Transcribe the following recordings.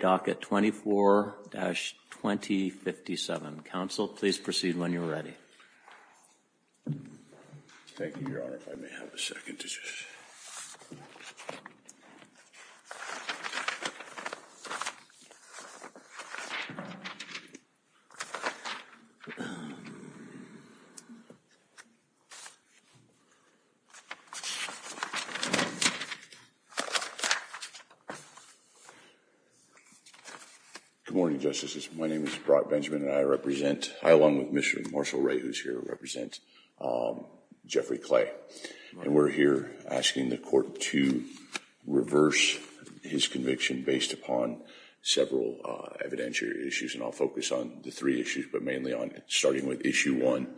Docket 24-2057. Counsel, please proceed when you are ready. Thank you, Your Honor. If I may have a second. Good morning, Justices. My name is Brock Benjamin, and I represent, along with Mr. Marshall Ray, who's here, represent Jeffrey Clay. And we're here asking the court to reverse his conviction based upon several evidentiary issues. And I'll focus on the three issues, but mainly on starting with issue one.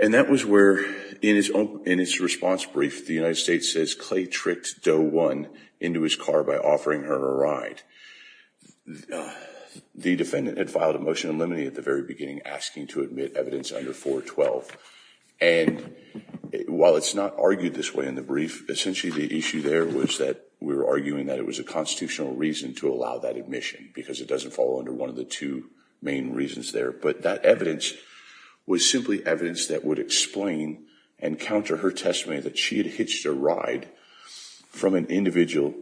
And that was where, in his response brief, the United States says Clay tricked Doe One into his car by offering her a ride. The defendant had filed a motion in limine at the very beginning asking to admit evidence under 412. And while it's not argued this way in the brief, essentially the issue there was that we were arguing that it was a constitutional reason to allow that admission because it doesn't fall under one of the two main reasons there. But that evidence was simply evidence that would explain and counter her testimony that she had hitched a ride from an individual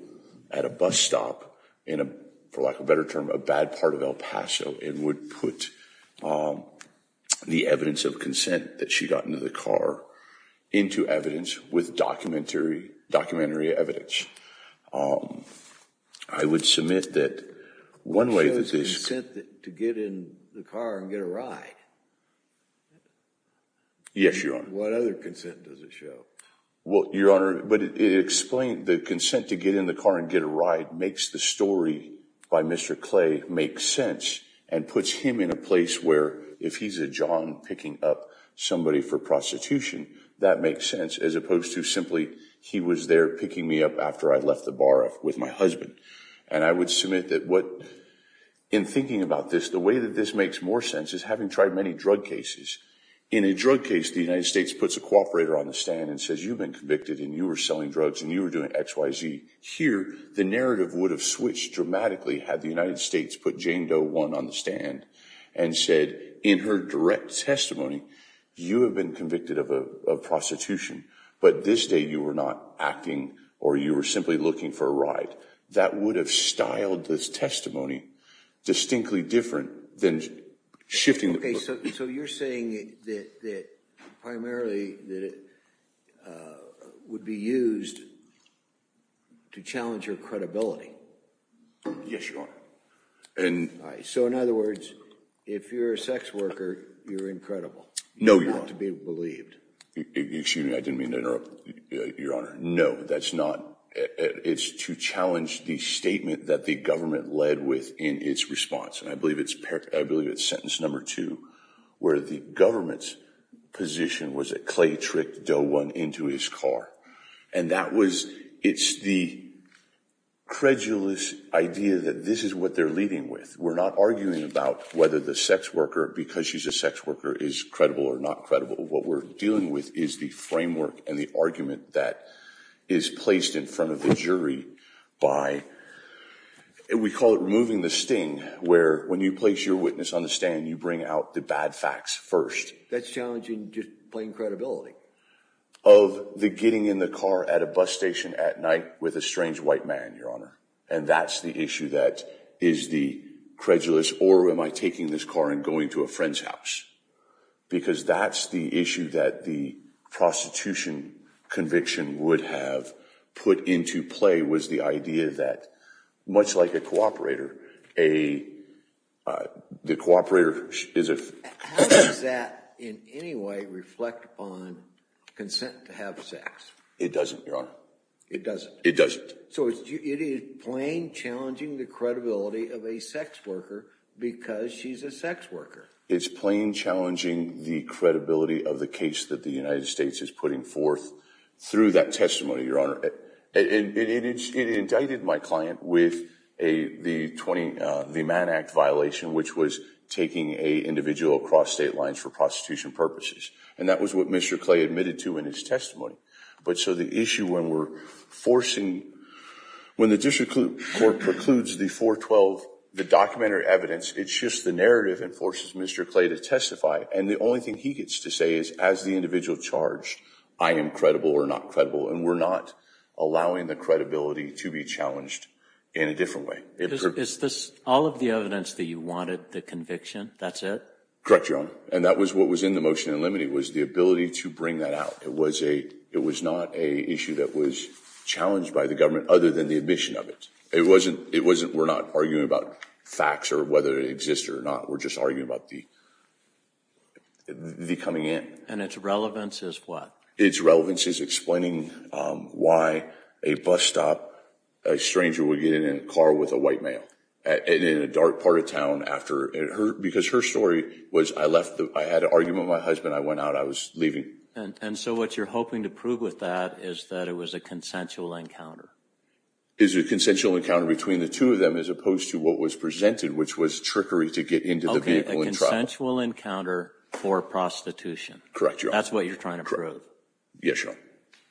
at a bus stop in a, for lack of a better term, a bad part of El Paso and would put the evidence of consent that she got into the car into evidence with documentary evidence. I would submit that one way that this... What shows consent to get in the car and get a ride? Yes, Your Honor. What other consent does it show? Well, Your Honor, but it explained the consent to get in the car and get a ride makes the story by Mr. Clay make sense and puts him in a place where, if he's a john picking up somebody for prostitution, that makes sense as opposed to simply he was there picking me up after I left the bar with my husband. And I would submit that what... In thinking about this, the way that this makes more sense is having tried many drug cases. In a drug case, the United States puts a cooperator on the stand and says, you've been convicted and you were selling drugs and you were doing X, Y, Z. Here, the narrative would have switched dramatically had the United States put Jane Doe 1 on the stand and said in her direct testimony, you have been convicted of prostitution, but this day you were not acting or you were simply looking for a ride. That would have styled this testimony distinctly different than shifting... Okay, so you're saying that primarily that it would be used to challenge her credibility. Yes, Your Honor. So in other words, if you're a sex worker, you're incredible. No, Your Honor. You have to be believed. Excuse me, I didn't mean to interrupt, Your Honor. No, that's not... It's to challenge the statement that the government led with in its response. And I believe it's sentence number two, where the government's position was that Clay tricked Doe 1 into his car. And that was, it's the credulous idea that this is what they're leading with. We're not arguing about whether the sex worker, because she's a sex worker, is credible or not credible. What we're dealing with is the framework and the argument that is placed in front of the jury by, we call it removing the sting, where when you place your witness on the stand, you bring out the bad facts first. That's challenging just plain credibility. Of the getting in the car at a bus station at night with a strange white man, Your Honor. And that's the issue that is the credulous, or am I taking this car and going to a friend's house? Because that's the issue that the prostitution conviction would have put into play, was the idea that, much like a cooperator, a, the cooperator is a... How does that in any way reflect on consent to have sex? It doesn't, Your Honor. It doesn't? It doesn't. So it is plain challenging the credibility of a sex worker because she's a sex worker. It's plain challenging the credibility of the case that the United States is putting forth through that testimony, Your Honor. It indicted my client with a, the 20, the Mann Act violation, which was taking a individual across state lines for prostitution purposes. And that was what Mr. Clay admitted to in his testimony. But so the issue when we're forcing, when the district court precludes the 412, the documentary evidence, it shifts the narrative and forces Mr. Clay to testify. And the only thing he gets to say is, as the individual charged, I am credible or not credible. And we're not allowing the credibility to be challenged in a different way. Is this all of the evidence that you wanted, the conviction, that's it? Correct, Your Honor. And that was what was in the motion in limine was the ability to bring that out. It was a, it was not an issue that was challenged by the government other than the admission of it. It wasn't, it wasn't, we're not arguing about facts or whether it exists or not. We're just arguing about the, the coming in. And its relevance is what? Its relevance is explaining why a bus stop, a stranger would get in a car with a white male. And in a dark part of town after, because her story was, I left, I had an argument with my husband. I went out, I was leaving. And so what you're hoping to prove with that is that it was a consensual encounter. It was a consensual encounter between the two of them as opposed to what was presented, which was trickery to get into the vehicle and travel. Okay, a consensual encounter for prostitution. Correct, Your Honor. That's what you're trying to prove. Yes, Your Honor.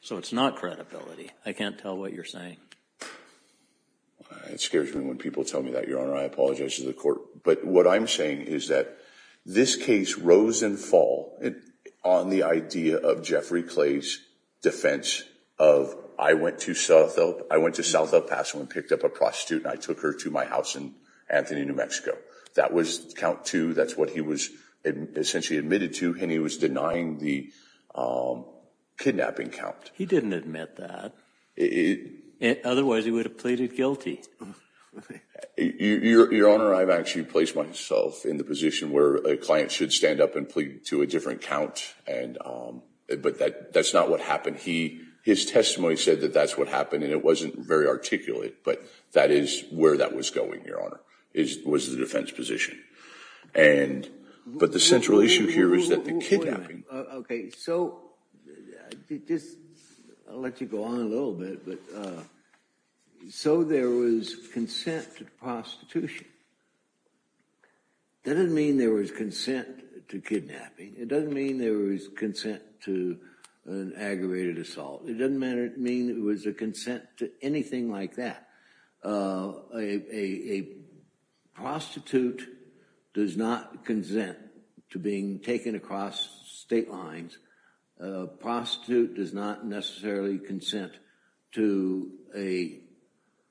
So it's not credibility. I can't tell what you're saying. It scares me when people tell me that, Your Honor. I apologize to the court. But what I'm saying is that this case rose and fall on the idea of Jeffrey Clay's defense of I went to South El, I went to South El Paso and picked up a prostitute and I took her to my house in Anthony, New Mexico. That was count two. That's what he was essentially admitted to and he was denying the kidnapping count. He didn't admit that. Otherwise he would have pleaded guilty. Your Honor, I've actually placed myself in the position where a client should stand up and plead to a different count. But that's not what happened. His testimony said that that's what happened and it wasn't very articulate. But that is where that was going, Your Honor. It was the defense position. But the central issue here is that the kidnapping. Okay, so I'll let you go on a little bit. So there was consent to prostitution. That doesn't mean there was consent to kidnapping. It doesn't mean there was consent to an aggravated assault. It doesn't mean there was a consent to anything like that. A prostitute does not consent to being taken across state lines. A prostitute does not necessarily consent to an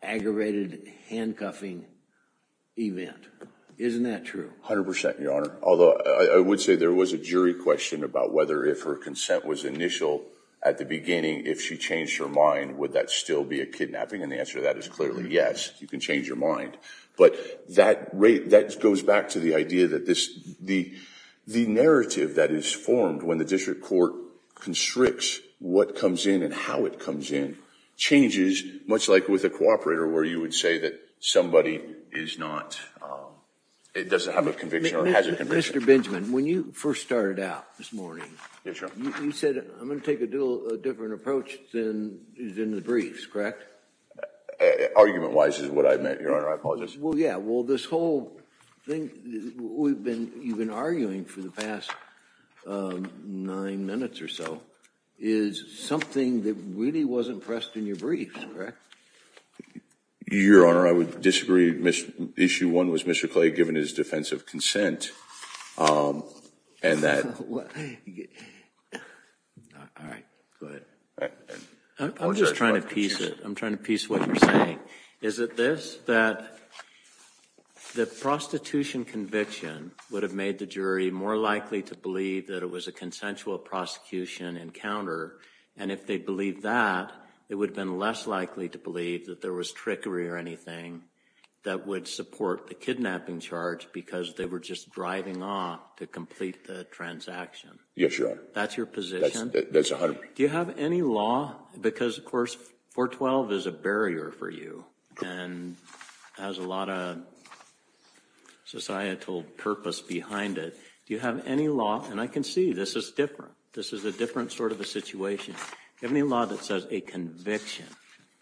aggravated handcuffing event. Isn't that true? A hundred percent, Your Honor. Although I would say there was a jury question about whether if her consent was initial at the beginning, if she changed her mind, would that still be a kidnapping? And the answer to that is clearly yes. You can change your mind. But that goes back to the idea that the narrative that is formed when the district court constricts what comes in and how it comes in changes much like with a cooperator where you would say that somebody is not, it doesn't have a conviction or has a conviction. Mr. Benjamin, when you first started out this morning, you said I'm going to take a different approach than the briefs, correct? Argument-wise is what I meant, Your Honor. I apologize. Well, yeah. Well, this whole thing you've been arguing for the past nine minutes or so is something that really wasn't pressed in your briefs, correct? Your Honor, I would disagree. Issue one was Mr. Clay giving his defense of consent. All right. Go ahead. I'm just trying to piece it. I'm trying to piece what you're saying. Is it this, that the prostitution conviction would have made the jury more likely to believe that it was a consensual prosecution encounter, and if they believed that, it would have been less likely to believe that there was trickery or anything that would support the kidnapping charge because they were just driving off to complete the transaction? Yes, Your Honor. That's your position? That's it, Your Honor. Do you have any law? Because, of course, 412 is a barrier for you and has a lot of societal purpose behind it. Do you have any law? And I can see this is different. This is a different sort of a situation. Do you have any law that says a conviction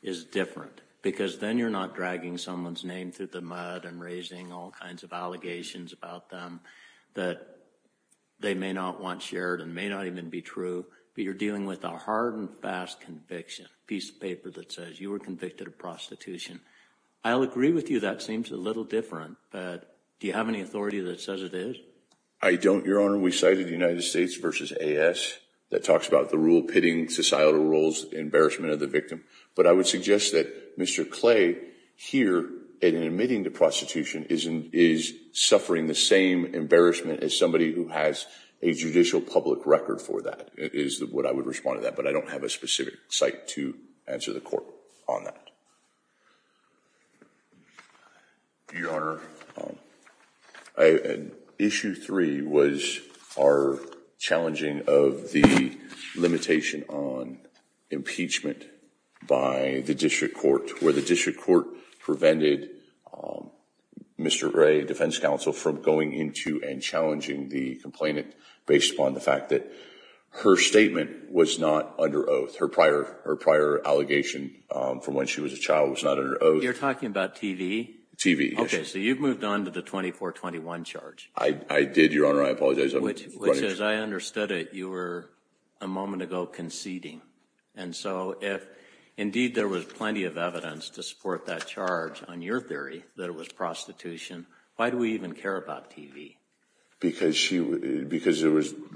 is different because then you're not dragging someone's name through the mud and raising all kinds of allegations about them that they may not want shared and may not even be true, but you're dealing with a hard and fast conviction, a piece of paper that says you were convicted of prostitution. I'll agree with you that seems a little different, but do you have any authority that says it is? I don't, Your Honor. We cited the United States v. A.S. that talks about the rule pitting societal roles, embarrassment of the victim. But I would suggest that Mr. Clay here, in admitting to prostitution, is suffering the same embarrassment as somebody who has a judicial public record for that is what I would respond to that. But I don't have a specific cite to answer the court on that. Your Honor, issue three was our challenging of the limitation on impeachment by the district court, where the district court prevented Mr. Gray, defense counsel, from going into and challenging the complainant based upon the fact that her statement was not under oath. Her prior allegation from when she was a child was not under oath. You're talking about T.V.? T.V., yes. Okay, so you've moved on to the 2421 charge. I did, Your Honor. I apologize. Which, as I understood it, you were a moment ago conceding. And so if indeed there was plenty of evidence to support that charge on your theory that it was prostitution, why do we even care about T.V.? Because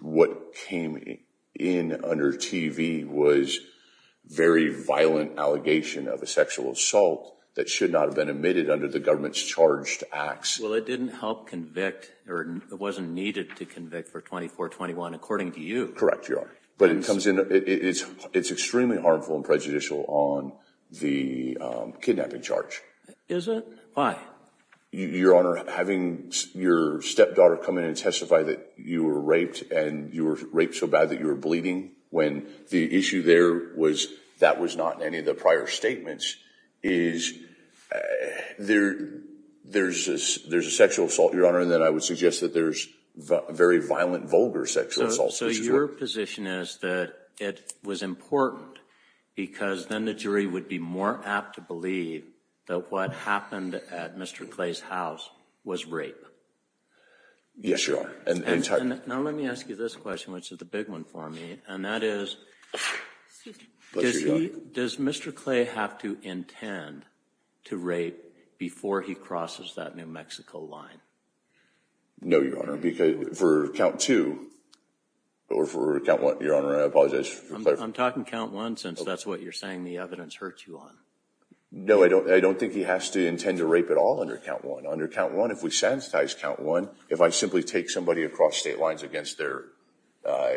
what came in under T.V. was very violent allegation of a sexual assault that should not have been admitted under the government's charged acts. Well, it didn't help convict, or it wasn't needed to convict for 2421, according to you. Correct, Your Honor. But it's extremely harmful and prejudicial on the kidnapping charge. Is it? Why? Your Honor, having your stepdaughter come in and testify that you were raped and you were raped so bad that you were bleeding, when the issue there was that was not in any of the prior statements, is there's a sexual assault, Your Honor, and then I would suggest that there's a very violent, vulgar sexual assault. So your position is that it was important because then the jury would be more apt to believe that what happened at Mr. Clay's house was rape? Yes, Your Honor. Now let me ask you this question, which is the big one for me, and that is, does Mr. Clay have to intend to rape before he crosses that New Mexico line? No, Your Honor, because for count two, or for count one, Your Honor, I apologize. I'm talking count one since that's what you're saying the evidence hurts you on. No, I don't think he has to intend to rape at all under count one. Under count one, if we sensitize count one, if I simply take somebody across state lines against their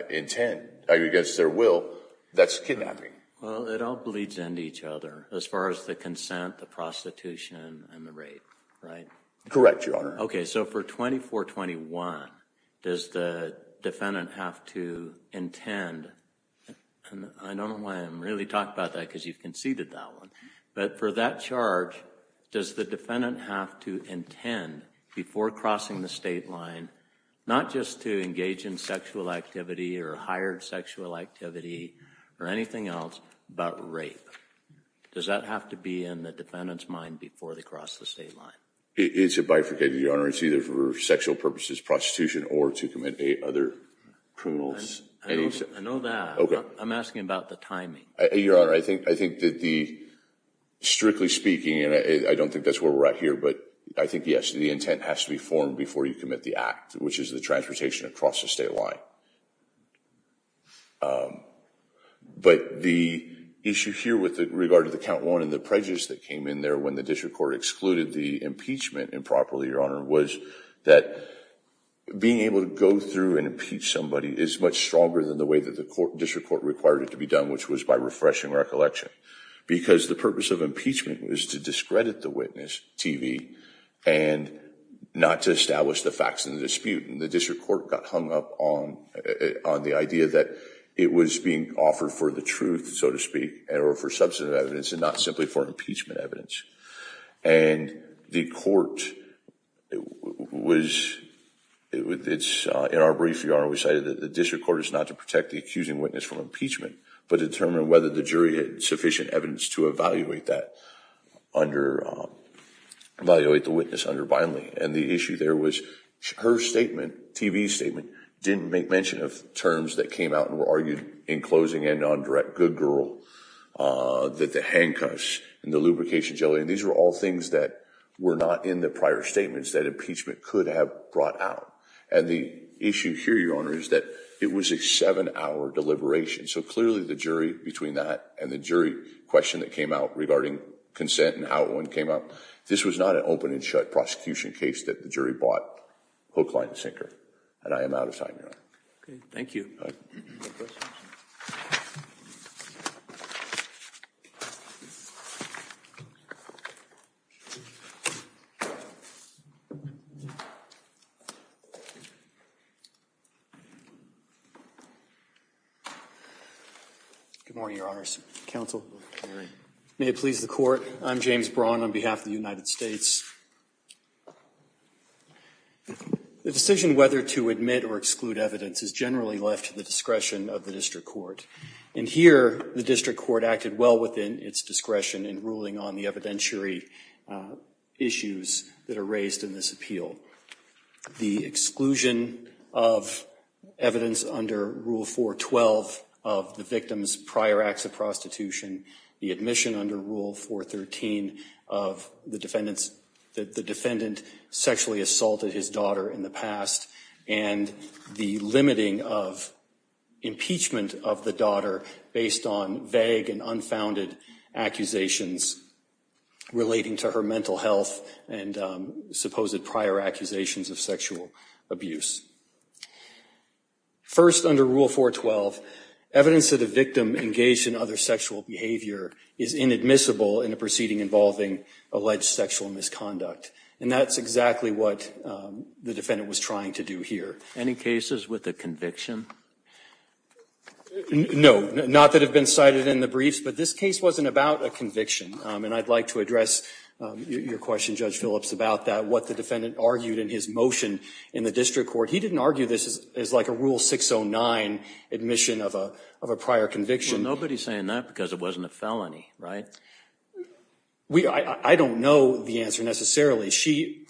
intent, against their will, that's kidnapping. Well, it all bleeds into each other as far as the consent, the prostitution, and the rape, right? Correct, Your Honor. Okay, so for 2421, does the defendant have to intend, and I don't know why I'm really talking about that because you've conceded that one, but for that charge, does the defendant have to intend, before crossing the state line, not just to engage in sexual activity or hired sexual activity or anything else, but rape? Does that have to be in the defendant's mind before they cross the state line? It's a bifurcated, Your Honor. It's either for sexual purposes, prostitution, or to commit other criminals. I know that. Okay. I'm asking about the timing. Your Honor, I think that the, strictly speaking, and I don't think that's where we're at here, but I think, yes, the intent has to be formed before you commit the act, which is the transportation across the state line. But the issue here with regard to the count one and the prejudice that came in there when the district court excluded the impeachment improperly, Your Honor, was that being able to go through and impeach somebody is much stronger than the way that the district court required it to be done, which was by refreshing recollection because the purpose of impeachment was to discredit the witness, TV, and not to establish the facts in the dispute. And the district court got hung up on the idea that it was being offered for the truth, so to speak, or for substantive evidence and not simply for impeachment evidence. And the court was... In our brief, Your Honor, we cited that the district court is not to protect the accusing witness from impeachment, but determine whether the jury had sufficient evidence to evaluate that under... Evaluate the witness under Bindley. And the issue there was her statement, TV statement, didn't make mention of terms that came out and were argued in closing and on direct, good girl, that the handcuffs and the lubrication jelly, and these were all things that were not in the prior statements that impeachment could have brought out. And the issue here, Your Honor, is that it was a seven-hour deliberation. So clearly the jury between that and the jury question that came out regarding consent and how it came out, this was not an open and shut prosecution case that the jury bought hook, line, and sinker. And I am out of time, Your Honor. Thank you. Good morning, Your Honors. Counsel. May it please the court. I'm James Braun on behalf of the United States. The decision whether to admit or exclude evidence is generally left to the discretion of the district court. And here, the district court acted well within its discretion in ruling on the evidentiary issues that are raised in this appeal. The exclusion of evidence under Rule 412 of the victim's prior acts of prostitution, the admission under Rule 413 of the defendant sexually assaulted his daughter in the past, and the limiting of impeachment of the daughter based on vague and unfounded accusations relating to her mental health and supposed prior accusations of sexual abuse. First, under Rule 412, evidence that a victim engaged in other sexual behavior is inadmissible in a proceeding involving alleged sexual misconduct. And that's exactly what the defendant was trying to do here. Any cases with a conviction? No. Not that have been cited in the briefs, but this case wasn't about a conviction. And I'd like to address your question, Judge Phillips, about that, what the defendant argued in his motion in the district court. He didn't argue this as like a Rule 609 admission of a prior conviction. Well, nobody's saying that because it wasn't a felony, right? I don't know the answer necessarily. She –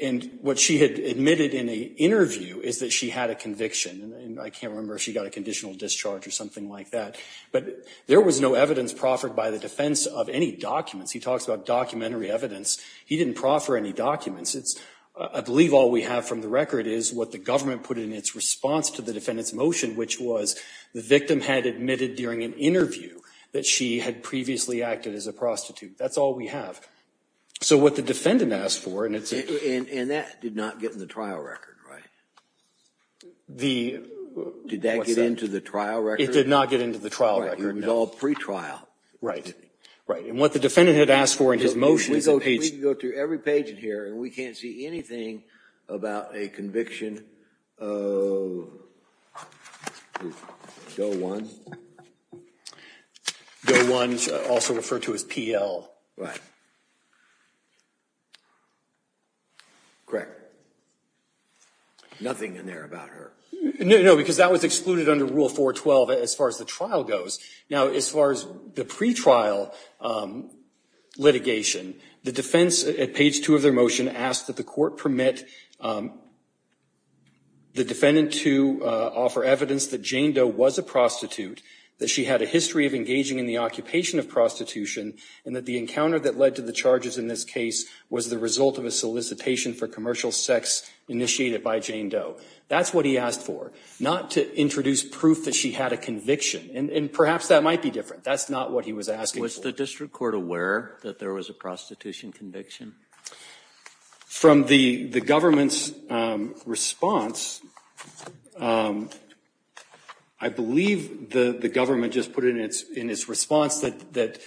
and what she had admitted in the interview is that she had a conviction. I can't remember if she got a conditional discharge or something like that. But there was no evidence proffered by the defense of any documents. He talks about documentary evidence. He didn't proffer any documents. It's – I believe all we have from the record is what the government put in its response to the defendant's motion, which was the victim had admitted during an interview that she had previously acted as a prostitute. That's all we have. So what the defendant asked for – And that did not get in the trial record, right? The – Did that get into the trial record? It did not get into the trial record, no. It was all pretrial. Right. Right. And what the defendant had asked for in his motion is – We can go through every page in here, and we can't see anything about a conviction of Go One. Go One, also referred to as PL. Right. Correct. Nothing in there about her. No, because that was excluded under Rule 412 as far as the trial goes. Now, as far as the pretrial litigation, the defense, at page 2 of their motion, asked that the court permit the defendant to offer evidence that Jane Doe was a prostitute, that she had a history of engaging in the occupation of prostitution, and that the encounter that led to the charges in this case was the result of a solicitation for commercial sex initiated by Jane Doe. That's what he asked for, not to introduce proof that she had a conviction. And perhaps that might be different. That's not what he was asking for. Was the district court aware that there was a prostitution conviction? From the government's response, I believe the government just put it in its response that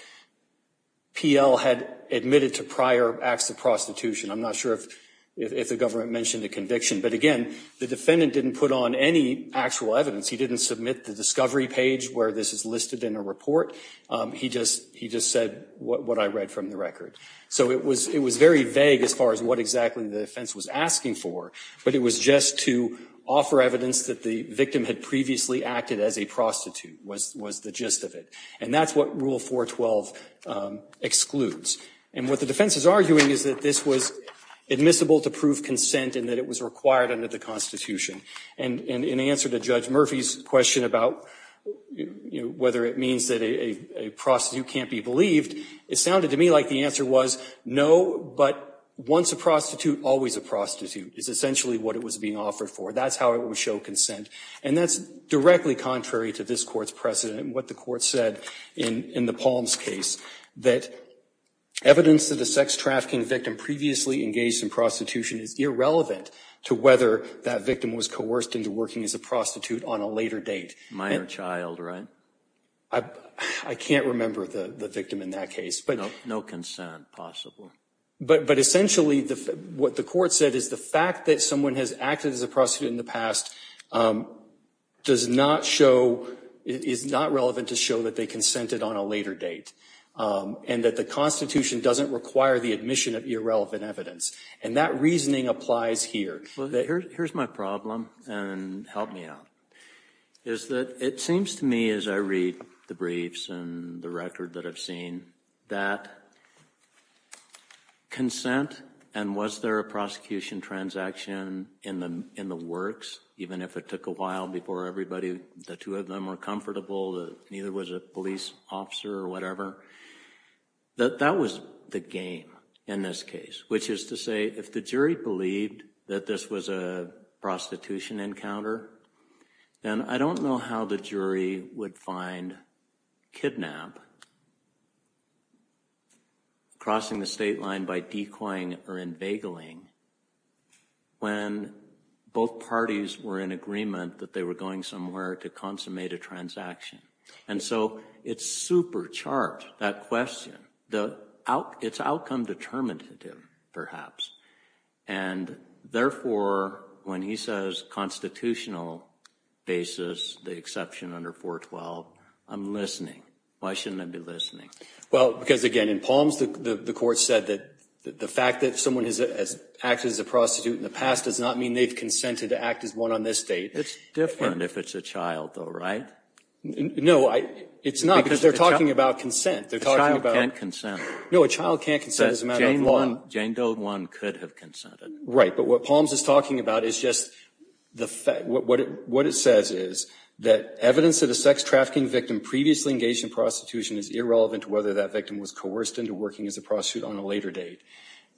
PL had admitted to prior acts of prostitution. I'm not sure if the government mentioned a conviction. But again, the defendant didn't put on any actual evidence. He didn't submit the discovery page where this is listed in a report. He just said what I read from the record. So it was very vague as far as what exactly the defense was asking for. But it was just to offer evidence that the victim had previously acted as a prostitute was the gist of it. And that's what Rule 412 excludes. And what the defense is arguing is that this was admissible to prove consent and that it was required under the Constitution. And in answer to Judge Murphy's question about whether it means that a prostitute can't be believed, it sounded to me like the answer was no, but once a prostitute, always a prostitute is essentially what it was being offered for. That's how it would show consent. And that's directly contrary to this Court's precedent and what the Court said in the evidence that the sex trafficking victim previously engaged in prostitution is irrelevant to whether that victim was coerced into working as a prostitute on a later date. Minor child, right? I can't remember the victim in that case. No consent possible. But essentially what the Court said is the fact that someone has acted as a prostitute in the past does not show, is not relevant to show that they consented on a later date. And that the Constitution doesn't require the admission of irrelevant evidence. And that reasoning applies here. Here's my problem and help me out. Is that it seems to me as I read the briefs and the record that I've seen that consent and was there a prosecution transaction in the works, even if it took a while before everybody, the two of them were comfortable, neither was a police officer or whatever. That was the game in this case, which is to say if the jury believed that this was a prostitution encounter, then I don't know how the jury would find kidnap, crossing the somewhere to consummate a transaction. And so it's supercharged, that question. It's outcome determinative, perhaps. And therefore, when he says constitutional basis, the exception under 412, I'm listening. Why shouldn't I be listening? Well, because again, in Palms the Court said that the fact that someone has acted as a prostitute in the past does not mean they've consented to act as one on this date. It's different if it's a child, though, right? No, it's not because they're talking about consent. A child can't consent. No, a child can't consent as a matter of law. Jane Doe one could have consented. Right, but what Palms is talking about is just what it says is that evidence that a sex trafficking victim previously engaged in prostitution is irrelevant to whether that victim was coerced into working as a prostitute on a later date.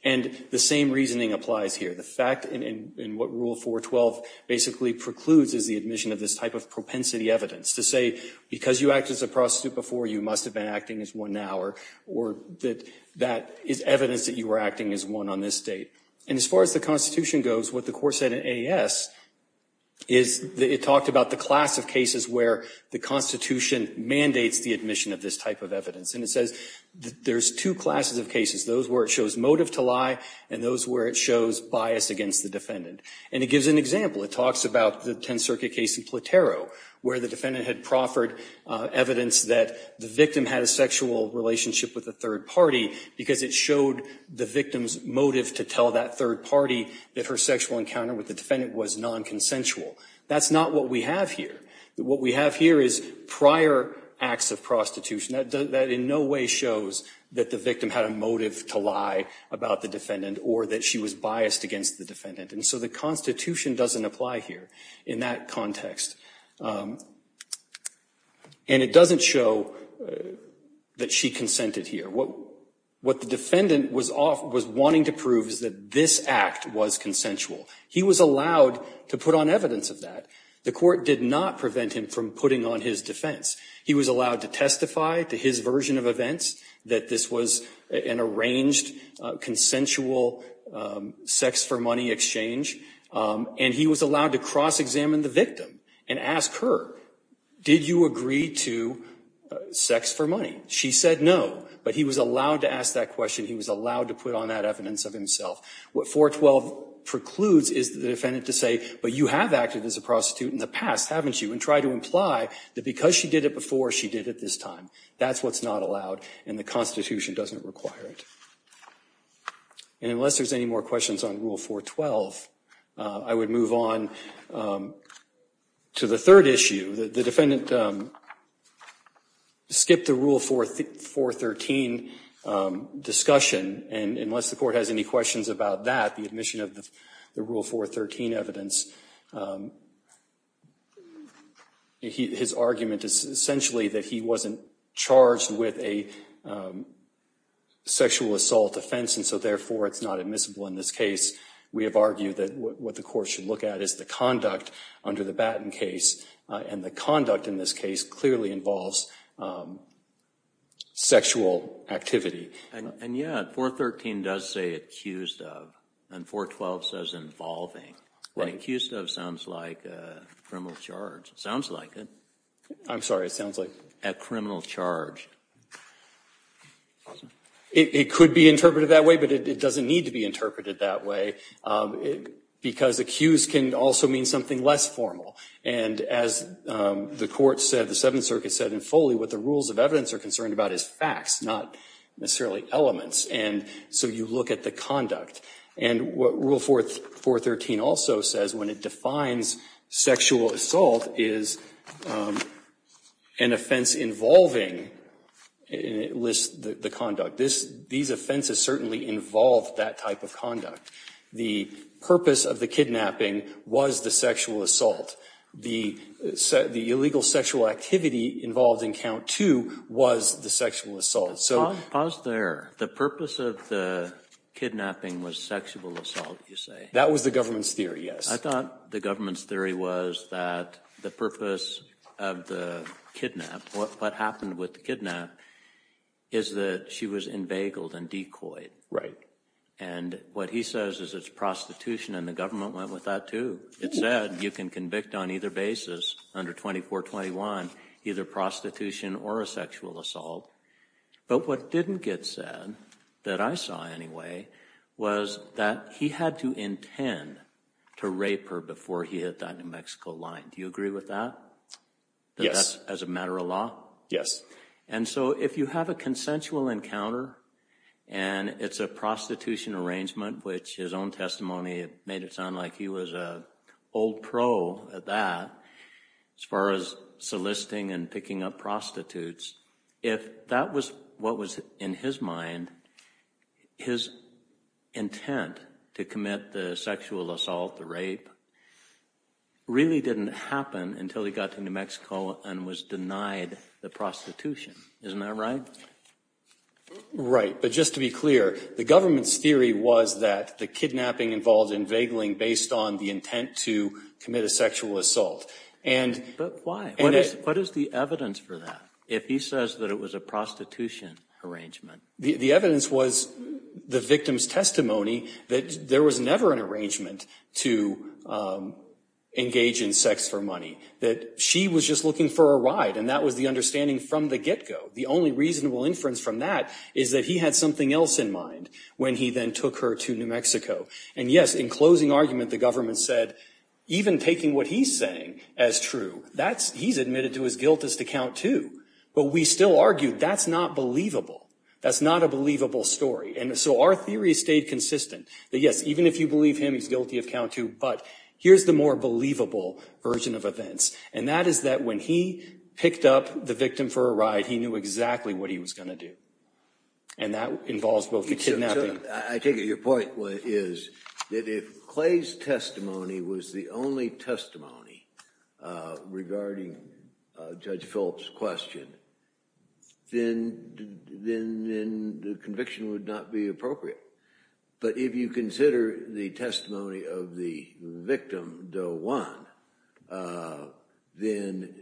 And the same reasoning applies here. The fact in what Rule 412 basically precludes is the admission of this type of propensity evidence, to say because you acted as a prostitute before, you must have been acting as one now, or that that is evidence that you were acting as one on this date. And as far as the Constitution goes, what the Court said in A.S. is that it talked about the class of cases where the Constitution mandates the admission of this type of evidence. And it says that there's two classes of cases, those where it shows motive to lie and those where it shows bias against the defendant. And it gives an example. It talks about the Tenth Circuit case in Platero where the defendant had proffered evidence that the victim had a sexual relationship with a third party because it showed the victim's motive to tell that third party that her sexual encounter with the defendant was nonconsensual. That's not what we have here. What we have here is prior acts of prostitution. That in no way shows that the victim had a motive to lie about the defendant or that she was biased against the defendant. And so the Constitution doesn't apply here in that context. And it doesn't show that she consented here. What the defendant was wanting to prove is that this act was consensual. He was allowed to put on evidence of that. The Court did not prevent him from putting on his defense. He was allowed to testify to his version of events that this was an arranged consensual sex-for-money exchange. And he was allowed to cross-examine the victim and ask her, did you agree to sex-for-money? She said no, but he was allowed to ask that question. He was allowed to put on that evidence of himself. What 412 precludes is the defendant to say, but you have acted as a prostitute in the past, haven't you? And try to imply that because she did it before, she did it this time. That's what's not allowed, and the Constitution doesn't require it. And unless there's any more questions on Rule 412, I would move on to the third issue. The defendant skipped the Rule 413 discussion, and unless the Court has any questions about that, the admission of the Rule 413 evidence, his argument is essentially that he wasn't charged with a sexual assault offense, and so therefore it's not admissible in this case. We have argued that what the Court should look at is the conduct under the Batten case, and the conduct in this case clearly involves sexual activity. And, yeah, 413 does say accused of, and 412 says involving. Accused of sounds like criminal charge. It sounds like it. I'm sorry. It sounds like? A criminal charge. It could be interpreted that way, but it doesn't need to be interpreted that way because accused can also mean something less formal. And as the Court said, the Seventh Circuit said in Foley, what the rules of evidence are concerned about is facts, not necessarily elements. And so you look at the conduct. And what Rule 413 also says, when it defines sexual assault, is an offense involving, and it lists the conduct. These offenses certainly involve that type of conduct. The purpose of the kidnapping was the sexual assault. The illegal sexual activity involved in Count 2 was the sexual assault. So the purpose of the kidnapping was sexual assault, you say? That was the government's theory, yes. I thought the government's theory was that the purpose of the kidnap, what happened with the kidnap, is that she was embagled and decoyed. Right. And what he says is it's prostitution, and the government went with that, too. It said you can convict on either basis, under 2421, either prostitution or a sexual assault. But what didn't get said, that I saw anyway, was that he had to intend to rape her before he hit that New Mexico line. Do you agree with that? Yes. That that's as a matter of law? Yes. And so if you have a consensual encounter, and it's a prostitution arrangement, which his own testimony made it sound like he was an old pro at that, as far as soliciting and picking up prostitutes, if that was what was in his mind, his intent to commit the sexual assault, the rape, really didn't happen until he got to New Mexico and was denied the prostitution. Isn't that right? Right. But just to be clear, the government's theory was that the kidnapping involved invagling based on the intent to commit a sexual assault. But why? What is the evidence for that, if he says that it was a prostitution arrangement? The evidence was the victim's testimony that there was never an arrangement to engage in sex for money. That she was just looking for a ride, and that was the understanding from the get-go. The only reasonable inference from that is that he had something else in mind when he then took her to New Mexico. And yes, in closing argument, the government said, even taking what he's saying as true, he's admitted to his guilt as to count two. But we still argue that's not believable. That's not a believable story. And so our theory stayed consistent, that yes, even if you believe him, he's guilty of count two. But here's the more believable version of events, and that is that when he picked up the victim for a ride, he knew exactly what he was going to do. And that involves both the kidnapping. I take it your point is that if Clay's testimony was the only testimony regarding Judge Phillips' question, then the conviction would not be appropriate. But if you consider the testimony of the victim, Do Juan, then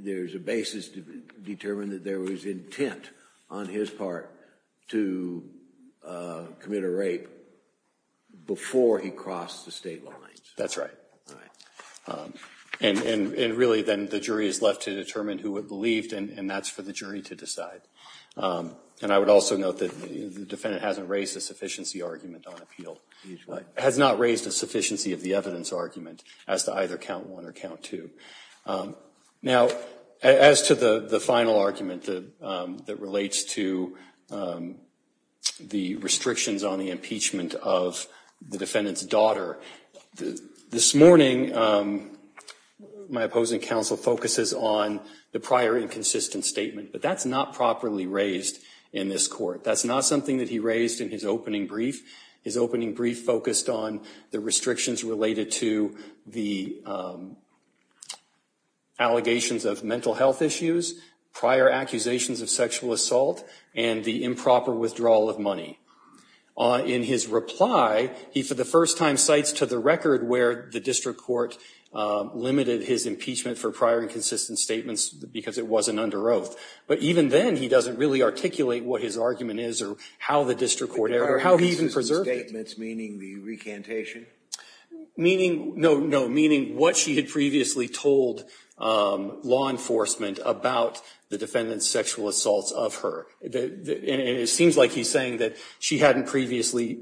there's a basis to determine that there was intent on his part to commit a rape before he crossed the state lines. That's right. And really then the jury is left to determine who it believed, and that's for the jury to decide. And I would also note that the defendant hasn't raised a sufficiency argument on appeal. Has not raised a sufficiency of the evidence argument as to either count one or count two. Now, as to the final argument that relates to the restrictions on the impeachment of the defendant's daughter, this morning my opposing counsel focuses on the prior inconsistent statement, but that's not properly raised in this court. That's not something that he raised in his opening brief. His opening brief focused on the restrictions related to the allegations of mental health issues, prior accusations of sexual assault, and the improper withdrawal of money. In his reply, he for the first time cites to the record where the district court limited his impeachment for prior inconsistent statements because it wasn't under oath. But even then, he doesn't really articulate what his argument is or how the district court, or how he even preserved it. Prior inconsistent statements, meaning the recantation? Meaning, no, no, meaning what she had previously told law enforcement about the defendant's sexual assaults of her. And it seems like he's saying that she hadn't previously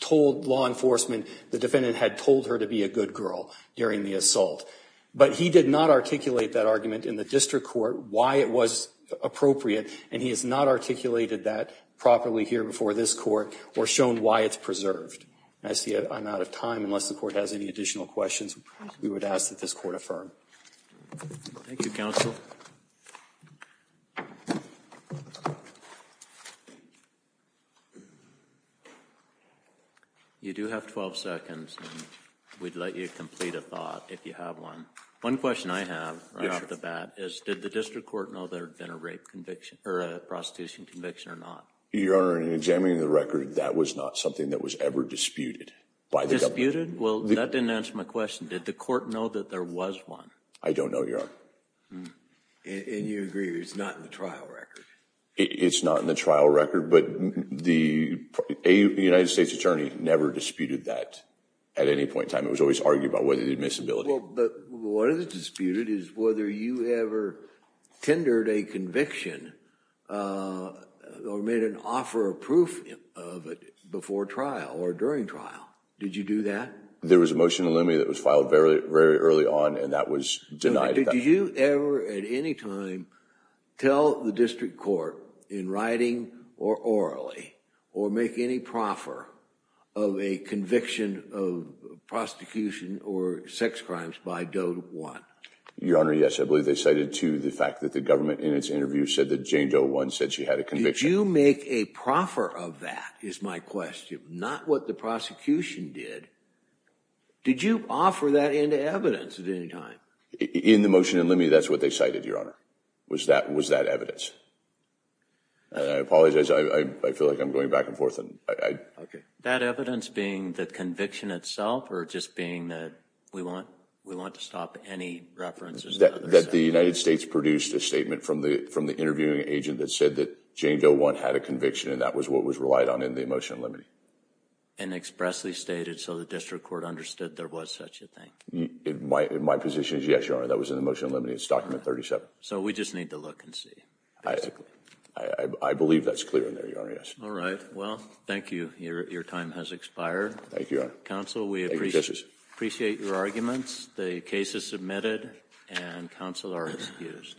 told law enforcement the defendant had told her to be a good girl during the assault. But he did not articulate that argument in the district court, why it was appropriate, and he has not articulated that properly here before this court or shown why it's preserved. I see I'm out of time. Unless the court has any additional questions, we would ask that this court affirm. Thank you, counsel. You do have 12 seconds. We'd let you complete a thought if you have one. One question I have right off the bat is, did the district court know there had been a rape conviction or a prostitution conviction or not? Your Honor, in examining the record, that was not something that was ever disputed by the government. Disputed? Well, that didn't answer my question. Did the court know that there was one? I don't know, Your Honor. And you agree it's not in the trial record? It's not in the trial record, but the United States Attorney never disputed that at any point in time. It was always argued about whether the admissibility. Well, but what is disputed is whether you ever tendered a conviction or made an offer of proof of it before trial or during trial. Did you do that? There was a motion in the limit that was filed very early on, and that was denied. Did you ever at any time tell the district court in writing or orally or make any proffer of a conviction of prosecution or sex crimes by Doe 1? Your Honor, yes. I believe they cited, too, the fact that the government, in its interview, said that Jane Doe 1 said she had a conviction. Did you make a proffer of that, is my question, not what the prosecution did? Did you offer that into evidence at any time? In the motion in the limit, that's what they cited, Your Honor, was that evidence. I apologize, I feel like I'm going back and forth. That evidence being the conviction itself or just being that we want to stop any references? That the United States produced a statement from the interviewing agent that said that Jane Doe 1 had a conviction and that was what was relied on in the motion in the limit. And expressly stated so the district court understood there was such a thing? My position is yes, Your Honor, that was in the motion in the limit. It's document 37. So we just need to look and see. I believe that's clear in there, Your Honor, yes. All right, well, thank you. Your time has expired. Thank you, Your Honor. Counsel, we appreciate your arguments. The case is submitted and counsel are excused.